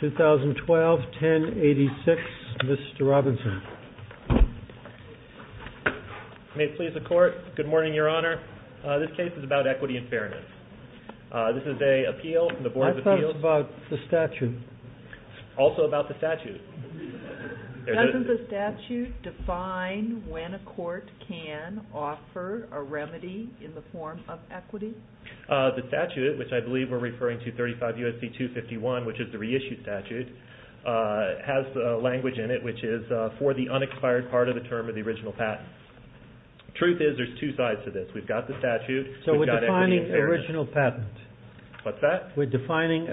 The 2012 1086 Mr. Robinson. May it please the court. Good morning your honor. This case is about equity and fairness. This is a appeal from the board of appeals. I thought it was about the statute. Also about the statute. Doesn't the statute define when a court can offer a remedy in the form of equity? The statute which I believe we're referring to 35 U.S.C. 251 which is the reissued statute has the language in it which is for the unexpired part of the term of the original patent. Truth is there's two sides to this. We've got the statute. So we're defining original patent. What's that? We're defining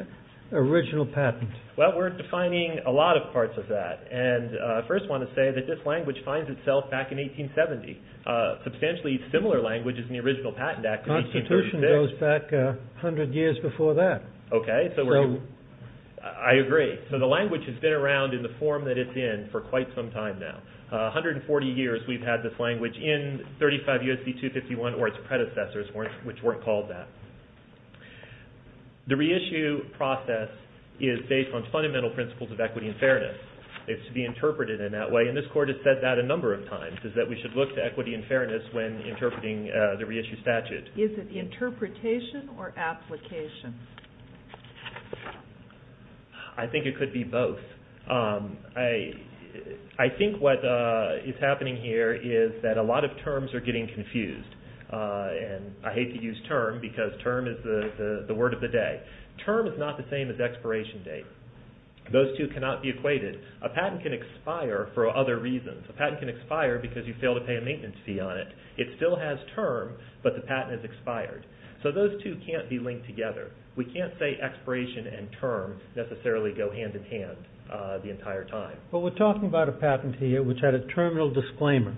original patent. Well we're defining a lot of parts of that. And I first want to say that this language finds itself back in 1870. Substantially similar languages in the original patent act. Constitution goes back 100 years before that. OK. So I agree. So the language has been around in the form that it's in for quite some time now. 140 years we've had this language in 35 years. The 251 or its predecessors weren't which weren't called that. The reissue process is based on fundamental principles of equity and fairness. It's to be interpreted in that way. And this court has said that a number of times is that we should look to equity and fairness when interpreting the reissue statute. Is it the interpretation or application? I think it could be both. I think what is happening here is that a lot of terms are getting confused. And I hate to use term because term is the word of the day. Term is not the same as expiration date. Those two cannot be equated. A patent can expire for other reasons. A patent can expire because you fail to pay a maintenance fee on it. It still has term but the patent is expired. So those two can't be linked together. We can't say expiration and term necessarily go hand in hand the entire time. But we're talking about a patent here which had a terminal disclaimer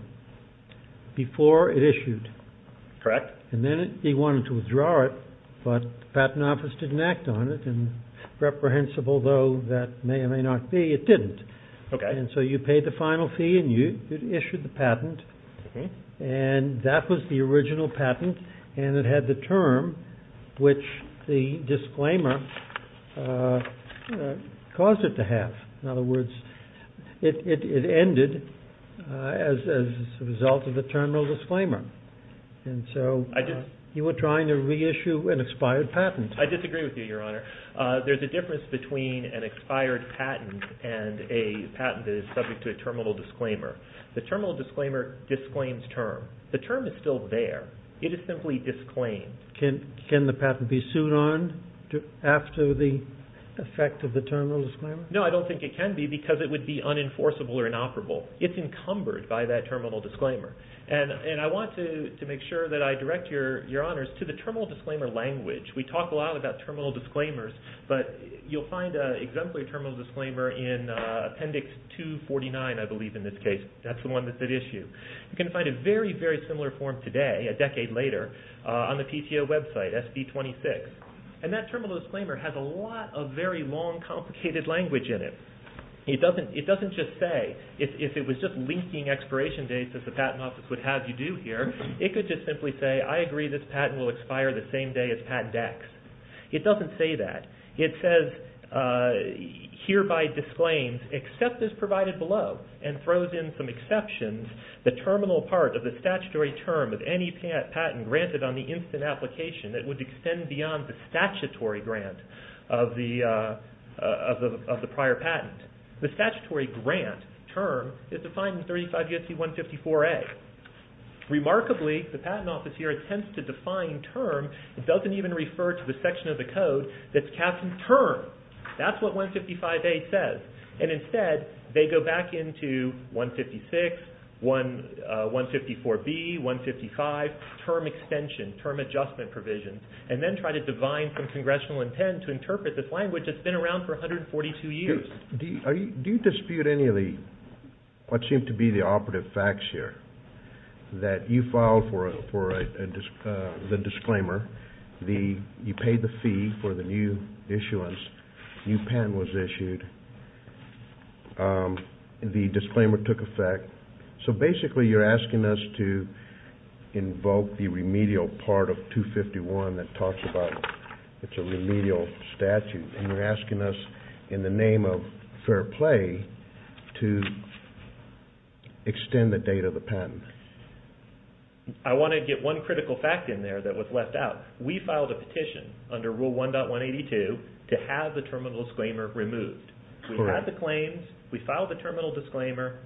before it issued. Correct. And then he wanted to withdraw it but the patent office didn't act on it and reprehensible though that may or may not be it didn't. And so you paid the final fee and you issued the patent and that was the original patent and it had the term which the disclaimer caused it to have. In other words it ended as a result of the terminal disclaimer. And so you were trying to reissue an expired patent. I disagree with you Your Honor. There's a difference between an expired patent and a patent that is subject to a terminal disclaimer. The terminal disclaimer disclaims term. The term is still there. It is simply disclaimed. Can the patent be sued on after the effect of the terminal disclaimer? No I don't think it can be because it would be unenforceable or inoperable. It's encumbered by that terminal disclaimer. And I want to make sure that I direct Your Honors to the terminal disclaimer language. We talk a lot about terminal disclaimers but you'll find an exemplary terminal disclaimer in appendix 249 I believe in this case. That's the one that's at issue. You can find a very very similar form today a decade later on the PTO website SB 26 and that terminal disclaimer has a lot of very long complicated language in it. It doesn't just say if it was just linking expiration dates as the patent office would have you do here. It could just simply say I agree this patent will expire the same day as patent X. It doesn't say that. It says hereby disclaims except as provided below and throws in some exceptions the terminal part of the statutory term of any patent granted on the instant application that would extend beyond the statutory grant of the prior patent. The statutory grant term is defined in 35 U.S.C. 154A. Remarkably the patent office here attempts to define term. It doesn't even refer to the section of the code that's captioned term. That's what 155A says and instead they go back into 156, 154B, 155 term extension, term adjustment provisions and then try to define some congressional intent to interpret this language that's been around for 142 years. Do you dispute any of the what seems to be the operative facts here? That you filed for the disclaimer, you paid the fee for the new issuance, new patent was issued, the disclaimer took effect. So basically you're asking us to invoke the remedial part of 251 that talks about it's a remedial statute and you're asking us in the name of fair play to extend the date of the patent. I want to get one critical fact in there that was left out. We filed a petition under Rule 1.182 to have the terminal disclaimer removed. We had the claims, we filed the terminal disclaimer,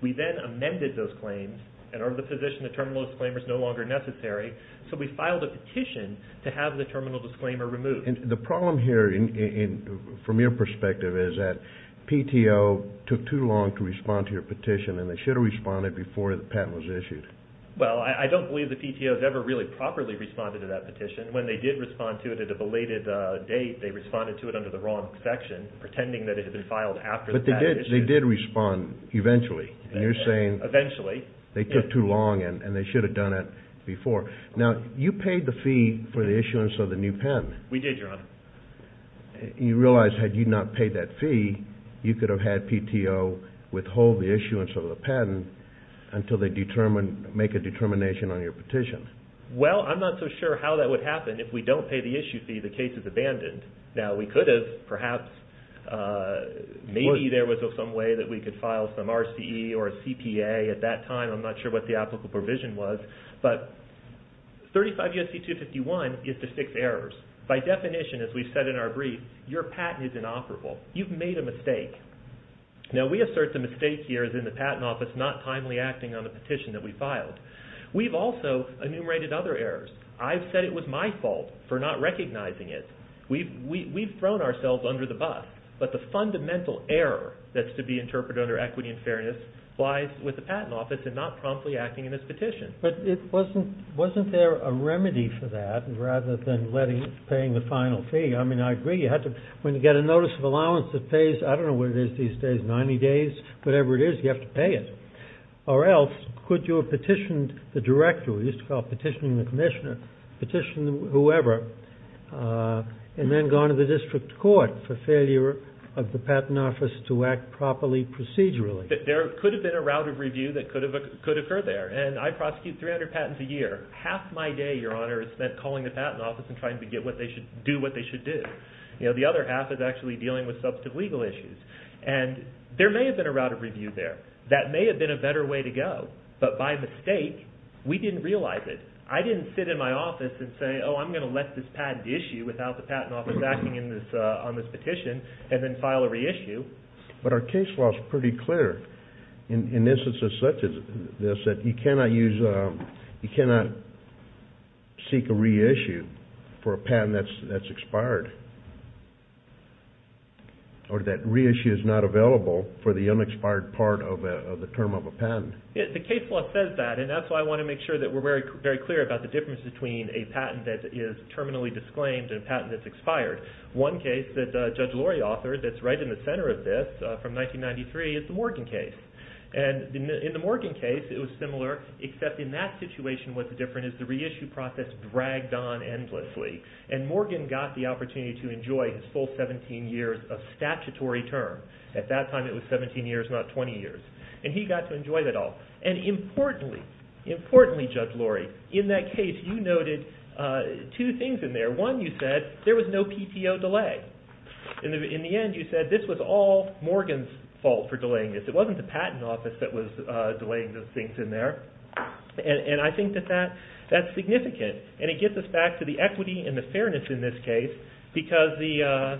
we then amended those claims and are in the position the terminal disclaimer is no longer necessary so we filed a petition to have the terminal disclaimer removed. The problem here from your perspective is that PTO took too long to respond to your petition and they should have responded before the patent was issued. Well, I don't believe the PTO has ever really properly responded to that petition. When they did respond to it at a belated date, they responded to it under the wrong section pretending that it had been filed after the patent was issued. They did respond eventually and you're saying they took too long and they should have done it before. Now you paid the fee for the issuance of the new patent. We did, Your Honor. You realize had you not paid that fee, you could have had PTO withhold the issuance of the patent until they make a determination on your petition. Well, I'm not so sure how that would happen if we don't pay the issue fee, the case is abandoned. Now we could have perhaps, maybe there was some way that we could file some RCE or CPA at that time, I'm not sure what the applicable provision was, but 35 U.S.C. 251 gives the six errors. By definition, as we said in our brief, your patent is inoperable. You've made a mistake. Now we assert the mistake here is in the patent office not timely acting on the petition that we filed. We've also enumerated other errors. I've said it was my fault for not recognizing it. We've thrown ourselves under the bus, but the fundamental error that's to be interpreted under equity and fairness lies with the patent office and not promptly acting in this petition. But it wasn't, wasn't there a remedy for that rather than letting, paying the final fee? I mean, I agree you have to, when you get a notice of allowance that pays, I don't know what it is these days, 90 days, whatever it is, you have to pay it. Or else could you have petitioned the director, we used to call it petitioning the commissioner, petitioned whoever, and then gone to the district court for failure of the patent office to act properly procedurally? There could have been a route of review that could have occurred there. And I prosecute 300 patents a year. Half my day, your honor, is spent calling the patent office and trying to get what they should, do what they should do. You know, the other half is actually dealing with substantive legal issues. And there may have been a route of review there. That may have been a better way to go. But by mistake, we didn't realize it. I didn't sit in my office and say, oh, I'm going to let this patent issue without the patent office acting on this petition and then file a reissue. But our case law is pretty clear in instances such as this that you cannot use, you cannot seek a reissue for a patent that's expired. Or that reissue is not available for the unexpired part of the term of a patent. The case law says that, and that's why I want to make sure that we're very clear about the difference between a patent that is terminally disclaimed and a patent that's expired. One case that Judge Lori authored that's right in the center of this from 1993 is the Morgan case. And in the Morgan case, it was similar, except in that situation what's different is the reissue process dragged on endlessly. And Morgan got the opportunity to enjoy his full 17 years of statutory term. At that time, it was 17 years, not 20 years. And he got to enjoy that all. And importantly, importantly, Judge Lori, in that case, you noted two things in there. Number one, you said there was no PTO delay. In the end, you said this was all Morgan's fault for delaying this. It wasn't the Patent Office that was delaying those things in there. And I think that that's significant. And it gets us back to the equity and the fairness in this case because the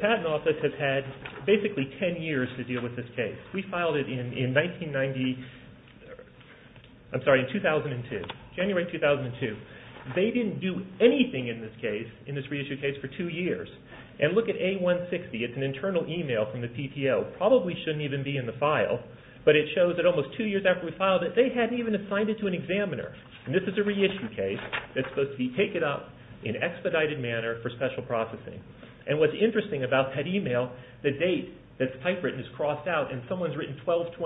Patent Office has had basically 10 years to deal with this case. We filed it in 1990, I'm sorry, in 2002, January 2002. They didn't do anything in this case, in this reissue case, for two years. And look at A160. It's an internal email from the PTO. It probably shouldn't even be in the file, but it shows that almost two years after we filed it, they hadn't even assigned it to an examiner. And this is a reissue case that's supposed to be taken up in expedited manner for special processing. And what's interesting about that email, the date that's typewritten is crossed out and someone's written 12-22-2003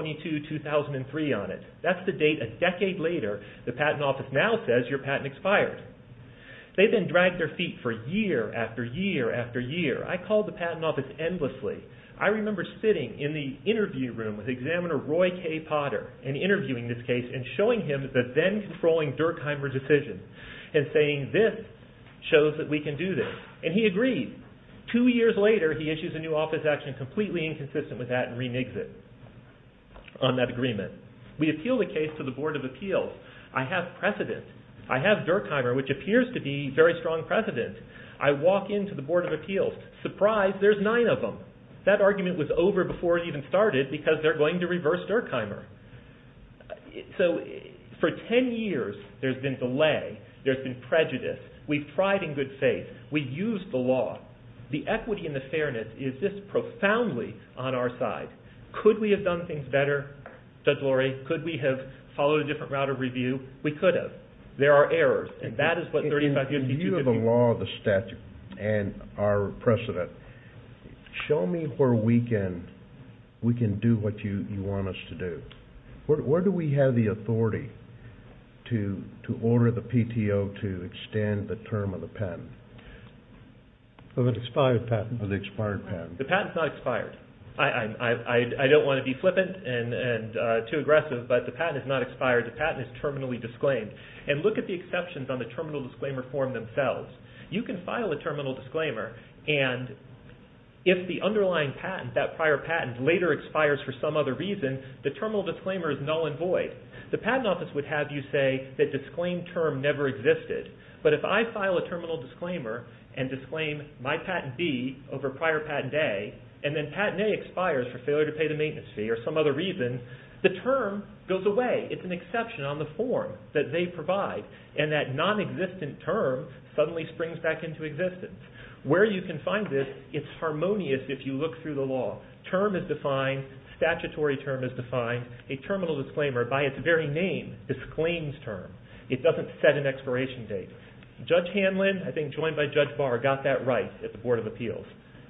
on it. That's the date a decade later the Patent Office now says your patent expired. They then dragged their feet for year after year after year. I called the Patent Office endlessly. I remember sitting in the interview room with Examiner Roy K. Potter and interviewing this case and showing him the then-controlling Durkheimer decision and saying this shows that we can do this. And he agreed. Two years later, he issues a new office action completely inconsistent with that and reneges on that agreement. We appeal the case to the Board of Appeals. I have precedent. I have Durkheimer, which appears to be very strong precedent. I walk into the Board of Appeals. Surprise, there's nine of them. That argument was over before it even started because they're going to reverse Durkheimer. So for ten years, there's been delay. There's been prejudice. We've tried in good faith. We've used the law. The equity and the fairness is just profoundly on our side. Could we have done things better? Judge Lurie, could we have followed a different route of review? We could have. There are errors. And that is what 35 years... In view of the law, the statute, and our precedent, show me where we can do what you want us to do. Where do we have the authority to order the PTO to extend the term of the patent? Of an expired patent. Of the expired patent. The patent's not expired. I don't want to be flippant and too aggressive, but the patent is not expired. The patent is terminally disclaimed. And look at the exceptions on the terminal disclaimer form themselves. You can file a terminal disclaimer, and if the underlying patent, that prior patent, later expires for some other reason, the terminal disclaimer is null and void. The Patent Office would have you say the disclaimed term never existed. But if I file a terminal disclaimer and disclaim my patent B over prior patent A, and then patent A expires for failure to pay the maintenance fee or some other reason, the term goes away. It's an exception on the form that they provide. And that non-existent term suddenly springs back into existence. Where you can find this, it's harmonious if you look through the law. Term is defined. Statutory term is defined. A terminal disclaimer, by its very name, disclaims term. It doesn't set an expiration date.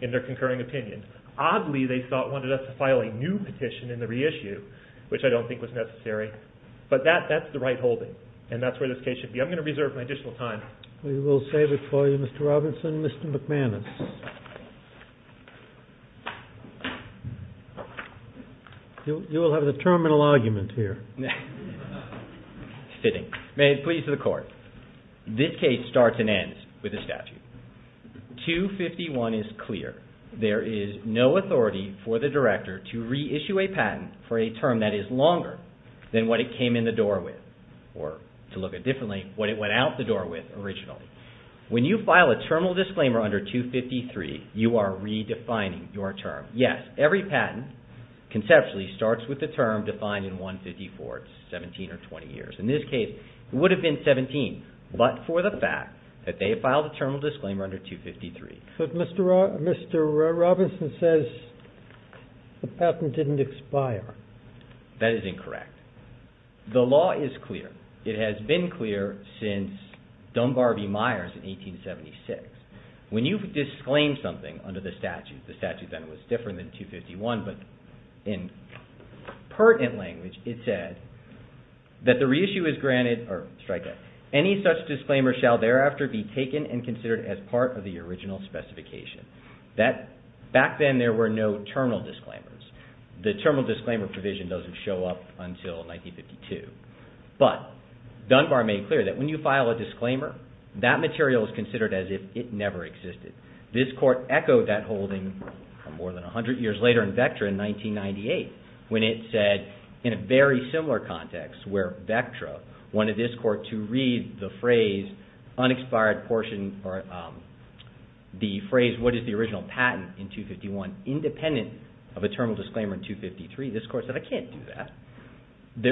In their concurring opinion. Oddly, they thought, wanted us to file a new petition in the reissue, which I don't think was necessary. But that's the right holding. And that's where this case should be. I'm going to reserve my additional time. We will save it for you, Mr. Robinson. Mr. McManus. You will have the terminal argument here. Fitting. May it please the Court. This case starts and ends with a statute. 251 is clear. There is no authority for the director to reissue a patent for a term that is longer than what it came in the door with. Or, to look at it differently, what it went out the door with originally. When you file a terminal disclaimer under 253, you are redefining your term. Yes, every patent, conceptually, starts with the term defined in 154, 17 or 20 years. In this case, it would have been 17. But for the fact that they filed a terminal disclaimer under 253. But Mr. Robinson says the patent didn't expire. That is incorrect. The law is clear. It has been clear since Dunbar v. Myers in 1876. When you disclaim something under the statute, the statute then was different than 251. In pertinent language, it said that the reissue is granted. Any such disclaimer shall thereafter be taken and considered as part of the original specification. Back then, there were no terminal disclaimers. The terminal disclaimer provision doesn't show up until 1952. But Dunbar made it clear that when you file a disclaimer, that material is considered as if it never existed. This court echoed that holding more than 100 years later in Vectra in 1998. When it said, in a very similar context, where Vectra wanted this court to read the phrase, unexpired portion or the phrase, what is the original patent in 251, independent of a terminal disclaimer in 253. This court said, I can't do that.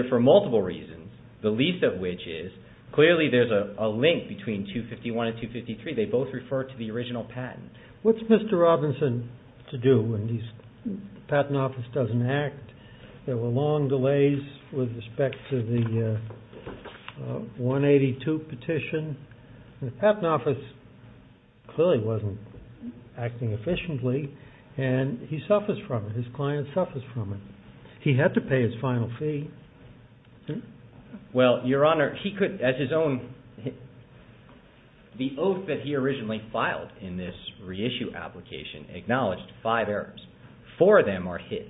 For multiple reasons, the least of which is, clearly there is a link between 251 and 253. They both refer to the original patent. What's Mr. Robinson to do when the patent office doesn't act? There were long delays with respect to the 182 petition. The patent office clearly wasn't acting efficiently, and he suffers from it. His client suffers from it. He had to pay his final fee. The oath that he originally filed in this reissue application acknowledged five errors. Four of them are his.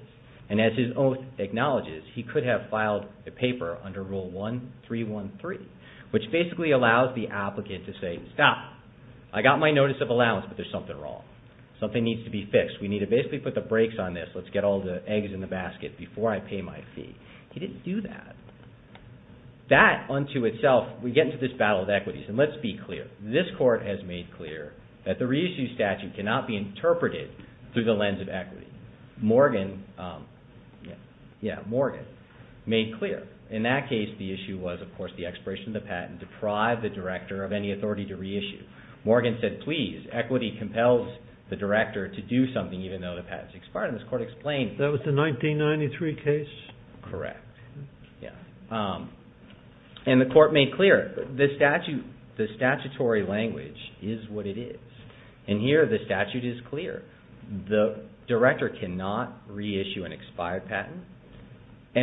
As his oath acknowledges, he could have filed the paper under Rule 1313, which basically allows the applicant to say, stop. I got my notice of allowance, but there's something wrong. Something needs to be fixed. We need to basically put the brakes on this. Let's get all the eggs in the basket before I pay my fee. He didn't do that. That, unto itself, we get into this battle of equities. Let's be clear. This court has made clear that the reissue statute cannot be interpreted through the lens of equity. Morgan made clear. In that case, the issue was, of course, the expiration of the patent deprived the director of any authority to reissue. Morgan said, please, equity compels the director to do something, even though the patent's expired. That was the 1993 case? Correct. The court made clear. The statutory language is what it is. Here, the statute is clear. The director cannot reissue an expired patent.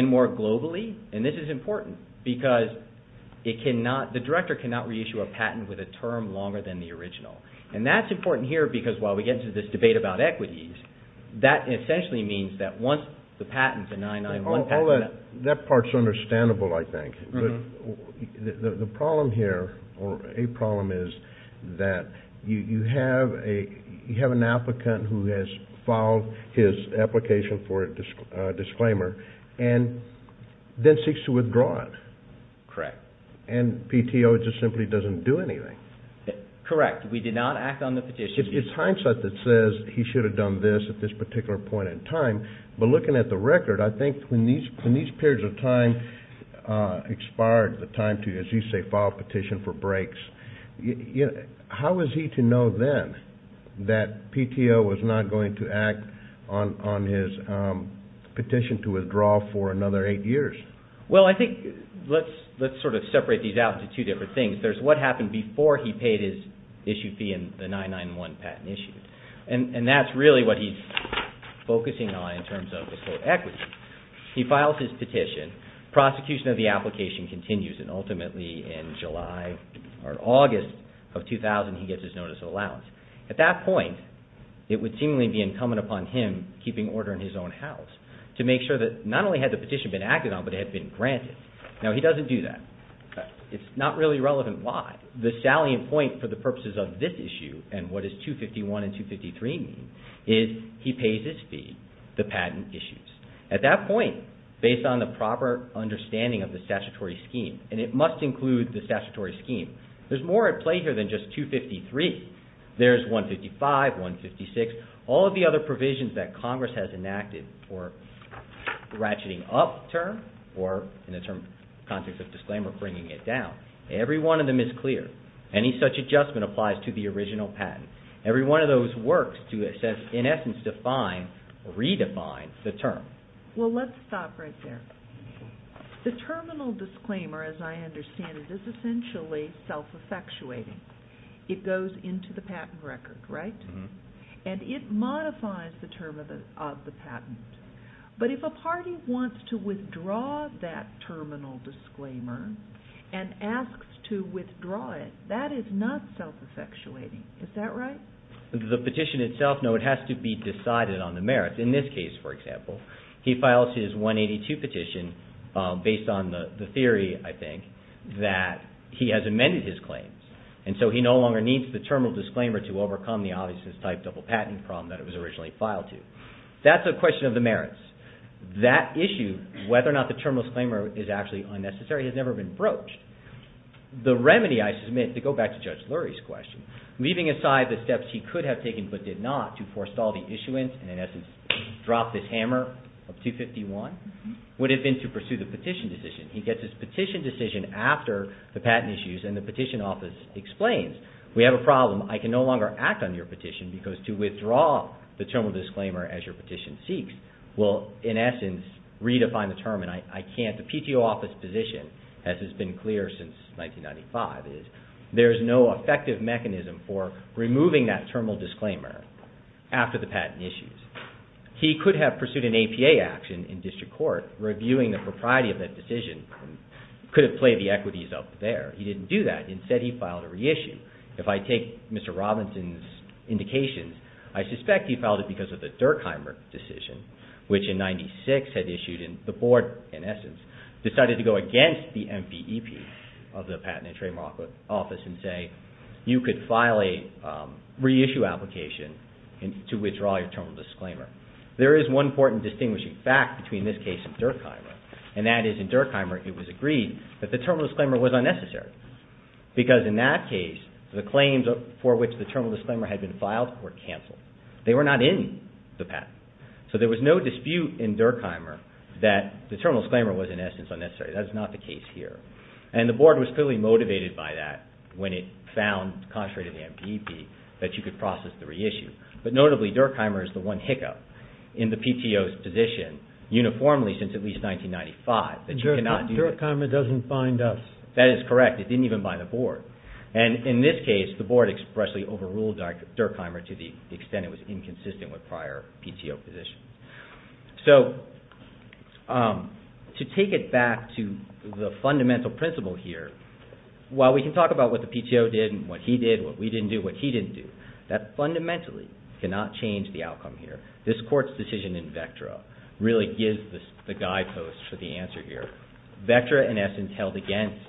More globally, and this is important, because the director cannot reissue a patent with a term longer than the original. That's important here, because while we get into this debate about equities, that essentially means that once the patent, the 991 patent. That part's understandable, I think. The problem here, or a problem is, that you have an applicant who has filed his application for a disclaimer and then seeks to withdraw it. Correct. And PTO just simply doesn't do anything. Correct. We did not act on the petition. It's hindsight that says he should have done this at this particular point in time. But looking at the record, I think when these periods of time expired, the time to, as you say, file a petition for breaks, how was he to know then that PTO was not going to act on his petition to withdraw for another eight years? Well, I think let's sort of separate these out into two different things. One is there's what happened before he paid his issue fee in the 991 patent issue. And that's really what he's focusing on in terms of the whole equity. He files his petition, prosecution of the application continues, and ultimately in July or August of 2000, he gets his notice of allowance. At that point, it would seemingly be incumbent upon him, keeping order in his own house, to make sure that not only had the petition been acted on, but it had been granted. Now, he doesn't do that. It's not really relevant why. The salient point for the purposes of this issue, and what does 251 and 253 mean, is he pays his fee, the patent issues. At that point, based on the proper understanding of the statutory scheme, and it must include the statutory scheme, there's more at play here than just 253. There's 155, 156, all of the other provisions that Congress has enacted for ratcheting up term or, in the context of disclaimer, bringing it down. Every one of them is clear. Any such adjustment applies to the original patent. Every one of those works to, in essence, redefine the term. Well, let's stop right there. The terminal disclaimer, as I understand it, is essentially self-effectuating. It goes into the patent record, right? And it modifies the term of the patent. But if a party wants to withdraw that terminal disclaimer and asks to withdraw it, that is not self-effectuating. Is that right? The petition itself, no, it has to be decided on the merits. In this case, for example, he files his 182 petition based on the theory, I think, that he has amended his claims, and so he no longer needs the terminal disclaimer to overcome the obviousness-type double patent problem that it was originally filed to. That's a question of the merits. That issue, whether or not the terminal disclaimer is actually unnecessary, has never been broached. The remedy, I submit, to go back to Judge Lurie's question, leaving aside the steps he could have taken but did not to forestall the issuance and, in essence, drop this hammer of 251, would have been to pursue the petition decision. He gets his petition decision after the patent issues and the petition office explains, we have a problem, I can no longer act on your petition because to withdraw the terminal disclaimer as your petition seeks will, in essence, redefine the term and I can't. The PTO office position, as has been clear since 1995, is there is no effective mechanism for removing that terminal disclaimer after the patent issues. He could have pursued an APA action in district court reviewing the propriety of that decision and could have played the equities up there. He didn't do that. Instead, he filed a reissue. If I take Mr. Robinson's indications, I suspect he filed it because of the Durkheimer decision, which in 1996 had issued and the board, in essence, decided to go against the MVEP of the Patent and Trademark Office and say you could file a reissue application to withdraw your terminal disclaimer. There is one important distinguishing fact between this case and Durkheimer and that is in Durkheimer it was agreed that the terminal disclaimer was unnecessary because in that case the claims for which the terminal disclaimer had been filed were cancelled. They were not in the patent. So there was no dispute in Durkheimer that the terminal disclaimer was, in essence, unnecessary. That is not the case here. And the board was clearly motivated by that when it found, contrary to the MVEP, that you could process the reissue. But notably, Durkheimer is the one hiccup in the PTO's position uniformly since at least 1995. Durkheimer doesn't bind us. That is correct. It didn't even bind the board. And in this case the board expressly overruled Durkheimer to the extent it was inconsistent with prior PTO positions. So to take it back to the fundamental principle here, while we can talk about what the PTO did and what he did, what we didn't do, what he didn't do, that fundamentally cannot change the outcome here. This Court's decision in Vectra really gives the guideposts for the answer here. Vectra, in essence, held against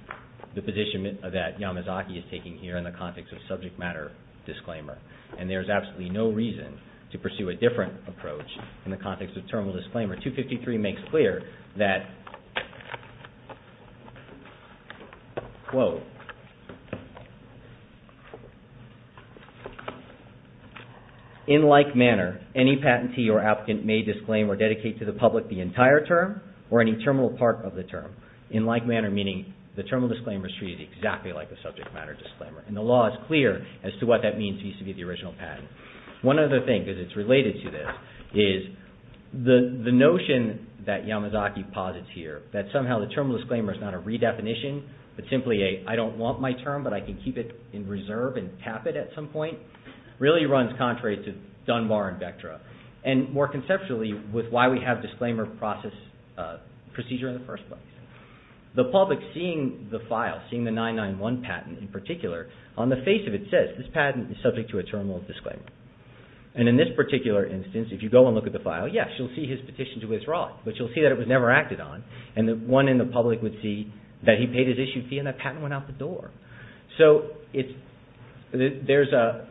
the position that Yamazaki is taking here in the context of subject matter disclaimer. And there is absolutely no reason to pursue a different approach in the context of terminal disclaimer. 253 makes clear that, quote, In like manner, any patentee or applicant may disclaim or dedicate to the public the entire term or any terminal part of the term. In like manner, meaning the terminal disclaimer is treated exactly like the subject matter disclaimer. And the law is clear as to what that means vis-à-vis the original patent. One other thing, because it's related to this, is the notion that Yamazaki posits here that somehow the terminal disclaimer is not a redefinition, but simply a, I don't want my term, but I can keep it in reserve and tap it at some point, really runs contrary to Dunbar and Vectra. And more conceptually, with why we have disclaimer procedure in the first place, the public seeing the file, seeing the 991 patent in particular, on the face of it says, This patent is subject to a terminal disclaimer. And in this particular instance, if you go and look at the file, yes, you'll see his petition to withdraw it. But you'll see that it was never acted on. And the one in the public would see that he paid his issued fee and that patent went out the door. So it's, there's a,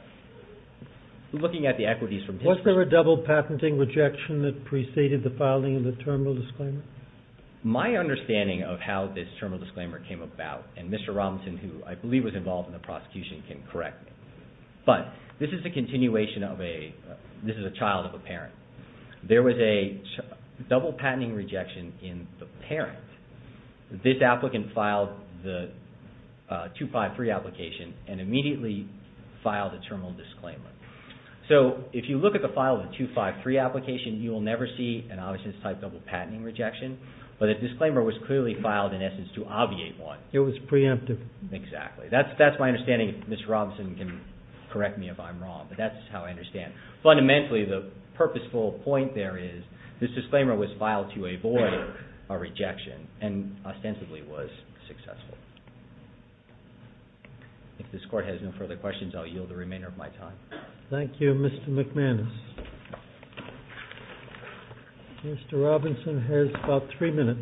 looking at the equities from history. Was there a double patenting rejection that preceded the filing of the terminal disclaimer? My understanding of how this terminal disclaimer came about, and Mr. Robinson, who I believe was involved in the prosecution, can correct me. But this is a continuation of a, this is a child of a parent. There was a double patenting rejection in the parent. This applicant filed the 253 application and immediately filed a terminal disclaimer. So if you look at the file of the 253 application, you will never see an obvious type double patenting rejection. But a disclaimer was clearly filed in essence to obviate one. It was preemptive. Exactly. That's my understanding, if Mr. Robinson can correct me if I'm wrong. But that's how I understand. Fundamentally, the purposeful point there is, this disclaimer was filed to avoid a rejection and ostensibly was successful. If this Court has no further questions, I'll yield the remainder of my time. Thank you, Mr. McManus. Mr. Robinson has about three minutes.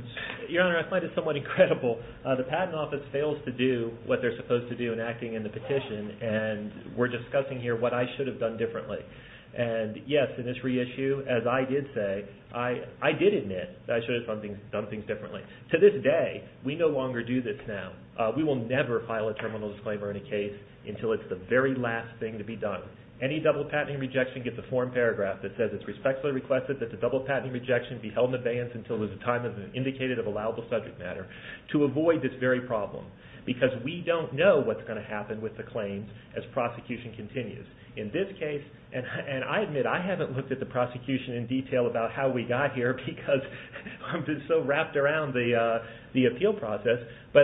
Your Honor, I find it somewhat incredible. The Patent Office fails to do what they're supposed to do in acting in the petition, and we're discussing here what I should have done differently. And yes, in this reissue, as I did say, I did admit that I should have done things differently. To this day, we no longer do this now. We will never file a terminal disclaimer in a case until it's the very last thing to be done. Any double patenting rejection gets a foreign paragraph that says it's respectfully requested that the double patenting rejection be held in abeyance until there's a time indicated of allowable subject matter to avoid this very problem, because we don't know what's going to happen with the claims as prosecution continues. In this case, and I admit, I haven't looked at the prosecution in detail about how we got here because I've been so wrapped around the appeal process, but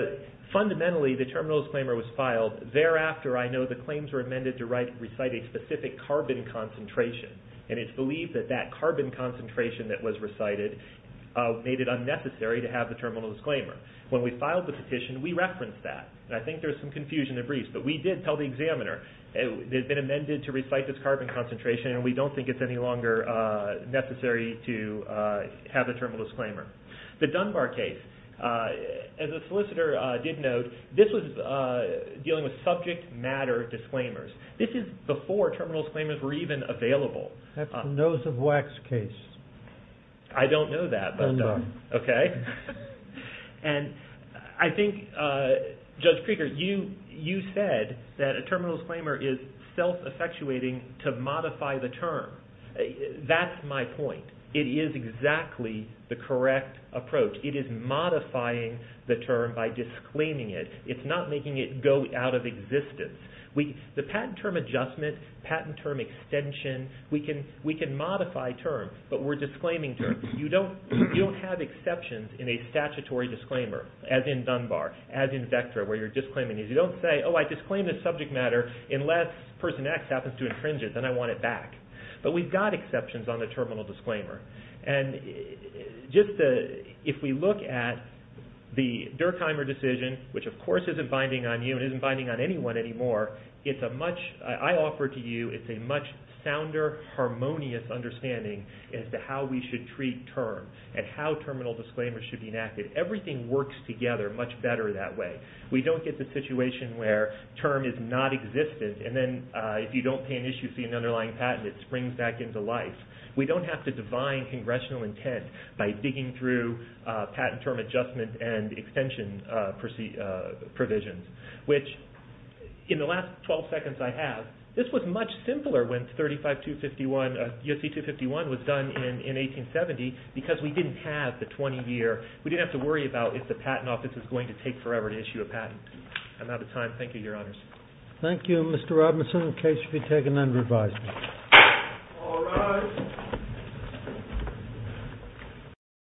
fundamentally, the terminal disclaimer was filed. Thereafter, I know the claims were amended to recite a specific carbon concentration, and it's believed that that carbon concentration that was recited made it unnecessary to have the terminal disclaimer. When we filed the petition, we referenced that, and I think there's some confusion in the briefs, but we did tell the examiner it had been amended to recite this carbon concentration, and we don't think it's any longer necessary to have a terminal disclaimer. The Dunbar case, as a solicitor did note, this was dealing with subject matter disclaimers. This is before terminal disclaimers were even available. That's the nose of wax case. I don't know that, but okay. And I think, Judge Krieger, you said that a terminal disclaimer is self-effectuating to modify the term. That's my point. It is exactly the correct approach. It is modifying the term by disclaiming it. It's not making it go out of existence. The patent term adjustment, patent term extension, we can modify terms, but we're disclaiming terms. You don't have exceptions in a statutory disclaimer, as in Dunbar, as in Vectra, where you're disclaiming these. You don't say, oh, I disclaim this subject matter unless person X happens to infringe it, then I want it back. But we've got exceptions on the terminal disclaimer. And just if we look at the Durkheimer decision, which of course isn't binding on you and isn't binding on anyone anymore, it's a much, I offer to you, it's a much sounder, harmonious understanding as to how we should treat terms and how terminal disclaimers should be enacted. Everything works together much better that way. We don't get the situation where term is not existent and then if you don't pay an issue to see an underlying patent, it springs back into life. We don't have to divine congressional intent by digging through patent term adjustment and extension provisions, which in the last 12 seconds I have, this was much simpler when 35251, USC 251 was done in 1870 because we didn't have the 20 year, we didn't have to worry about if the patent office is going to take forever to issue a patent. I'm out of time. Thank you, Your Honors. Thank you, Mr. Robinson. The case should be taken under advisement. All rise.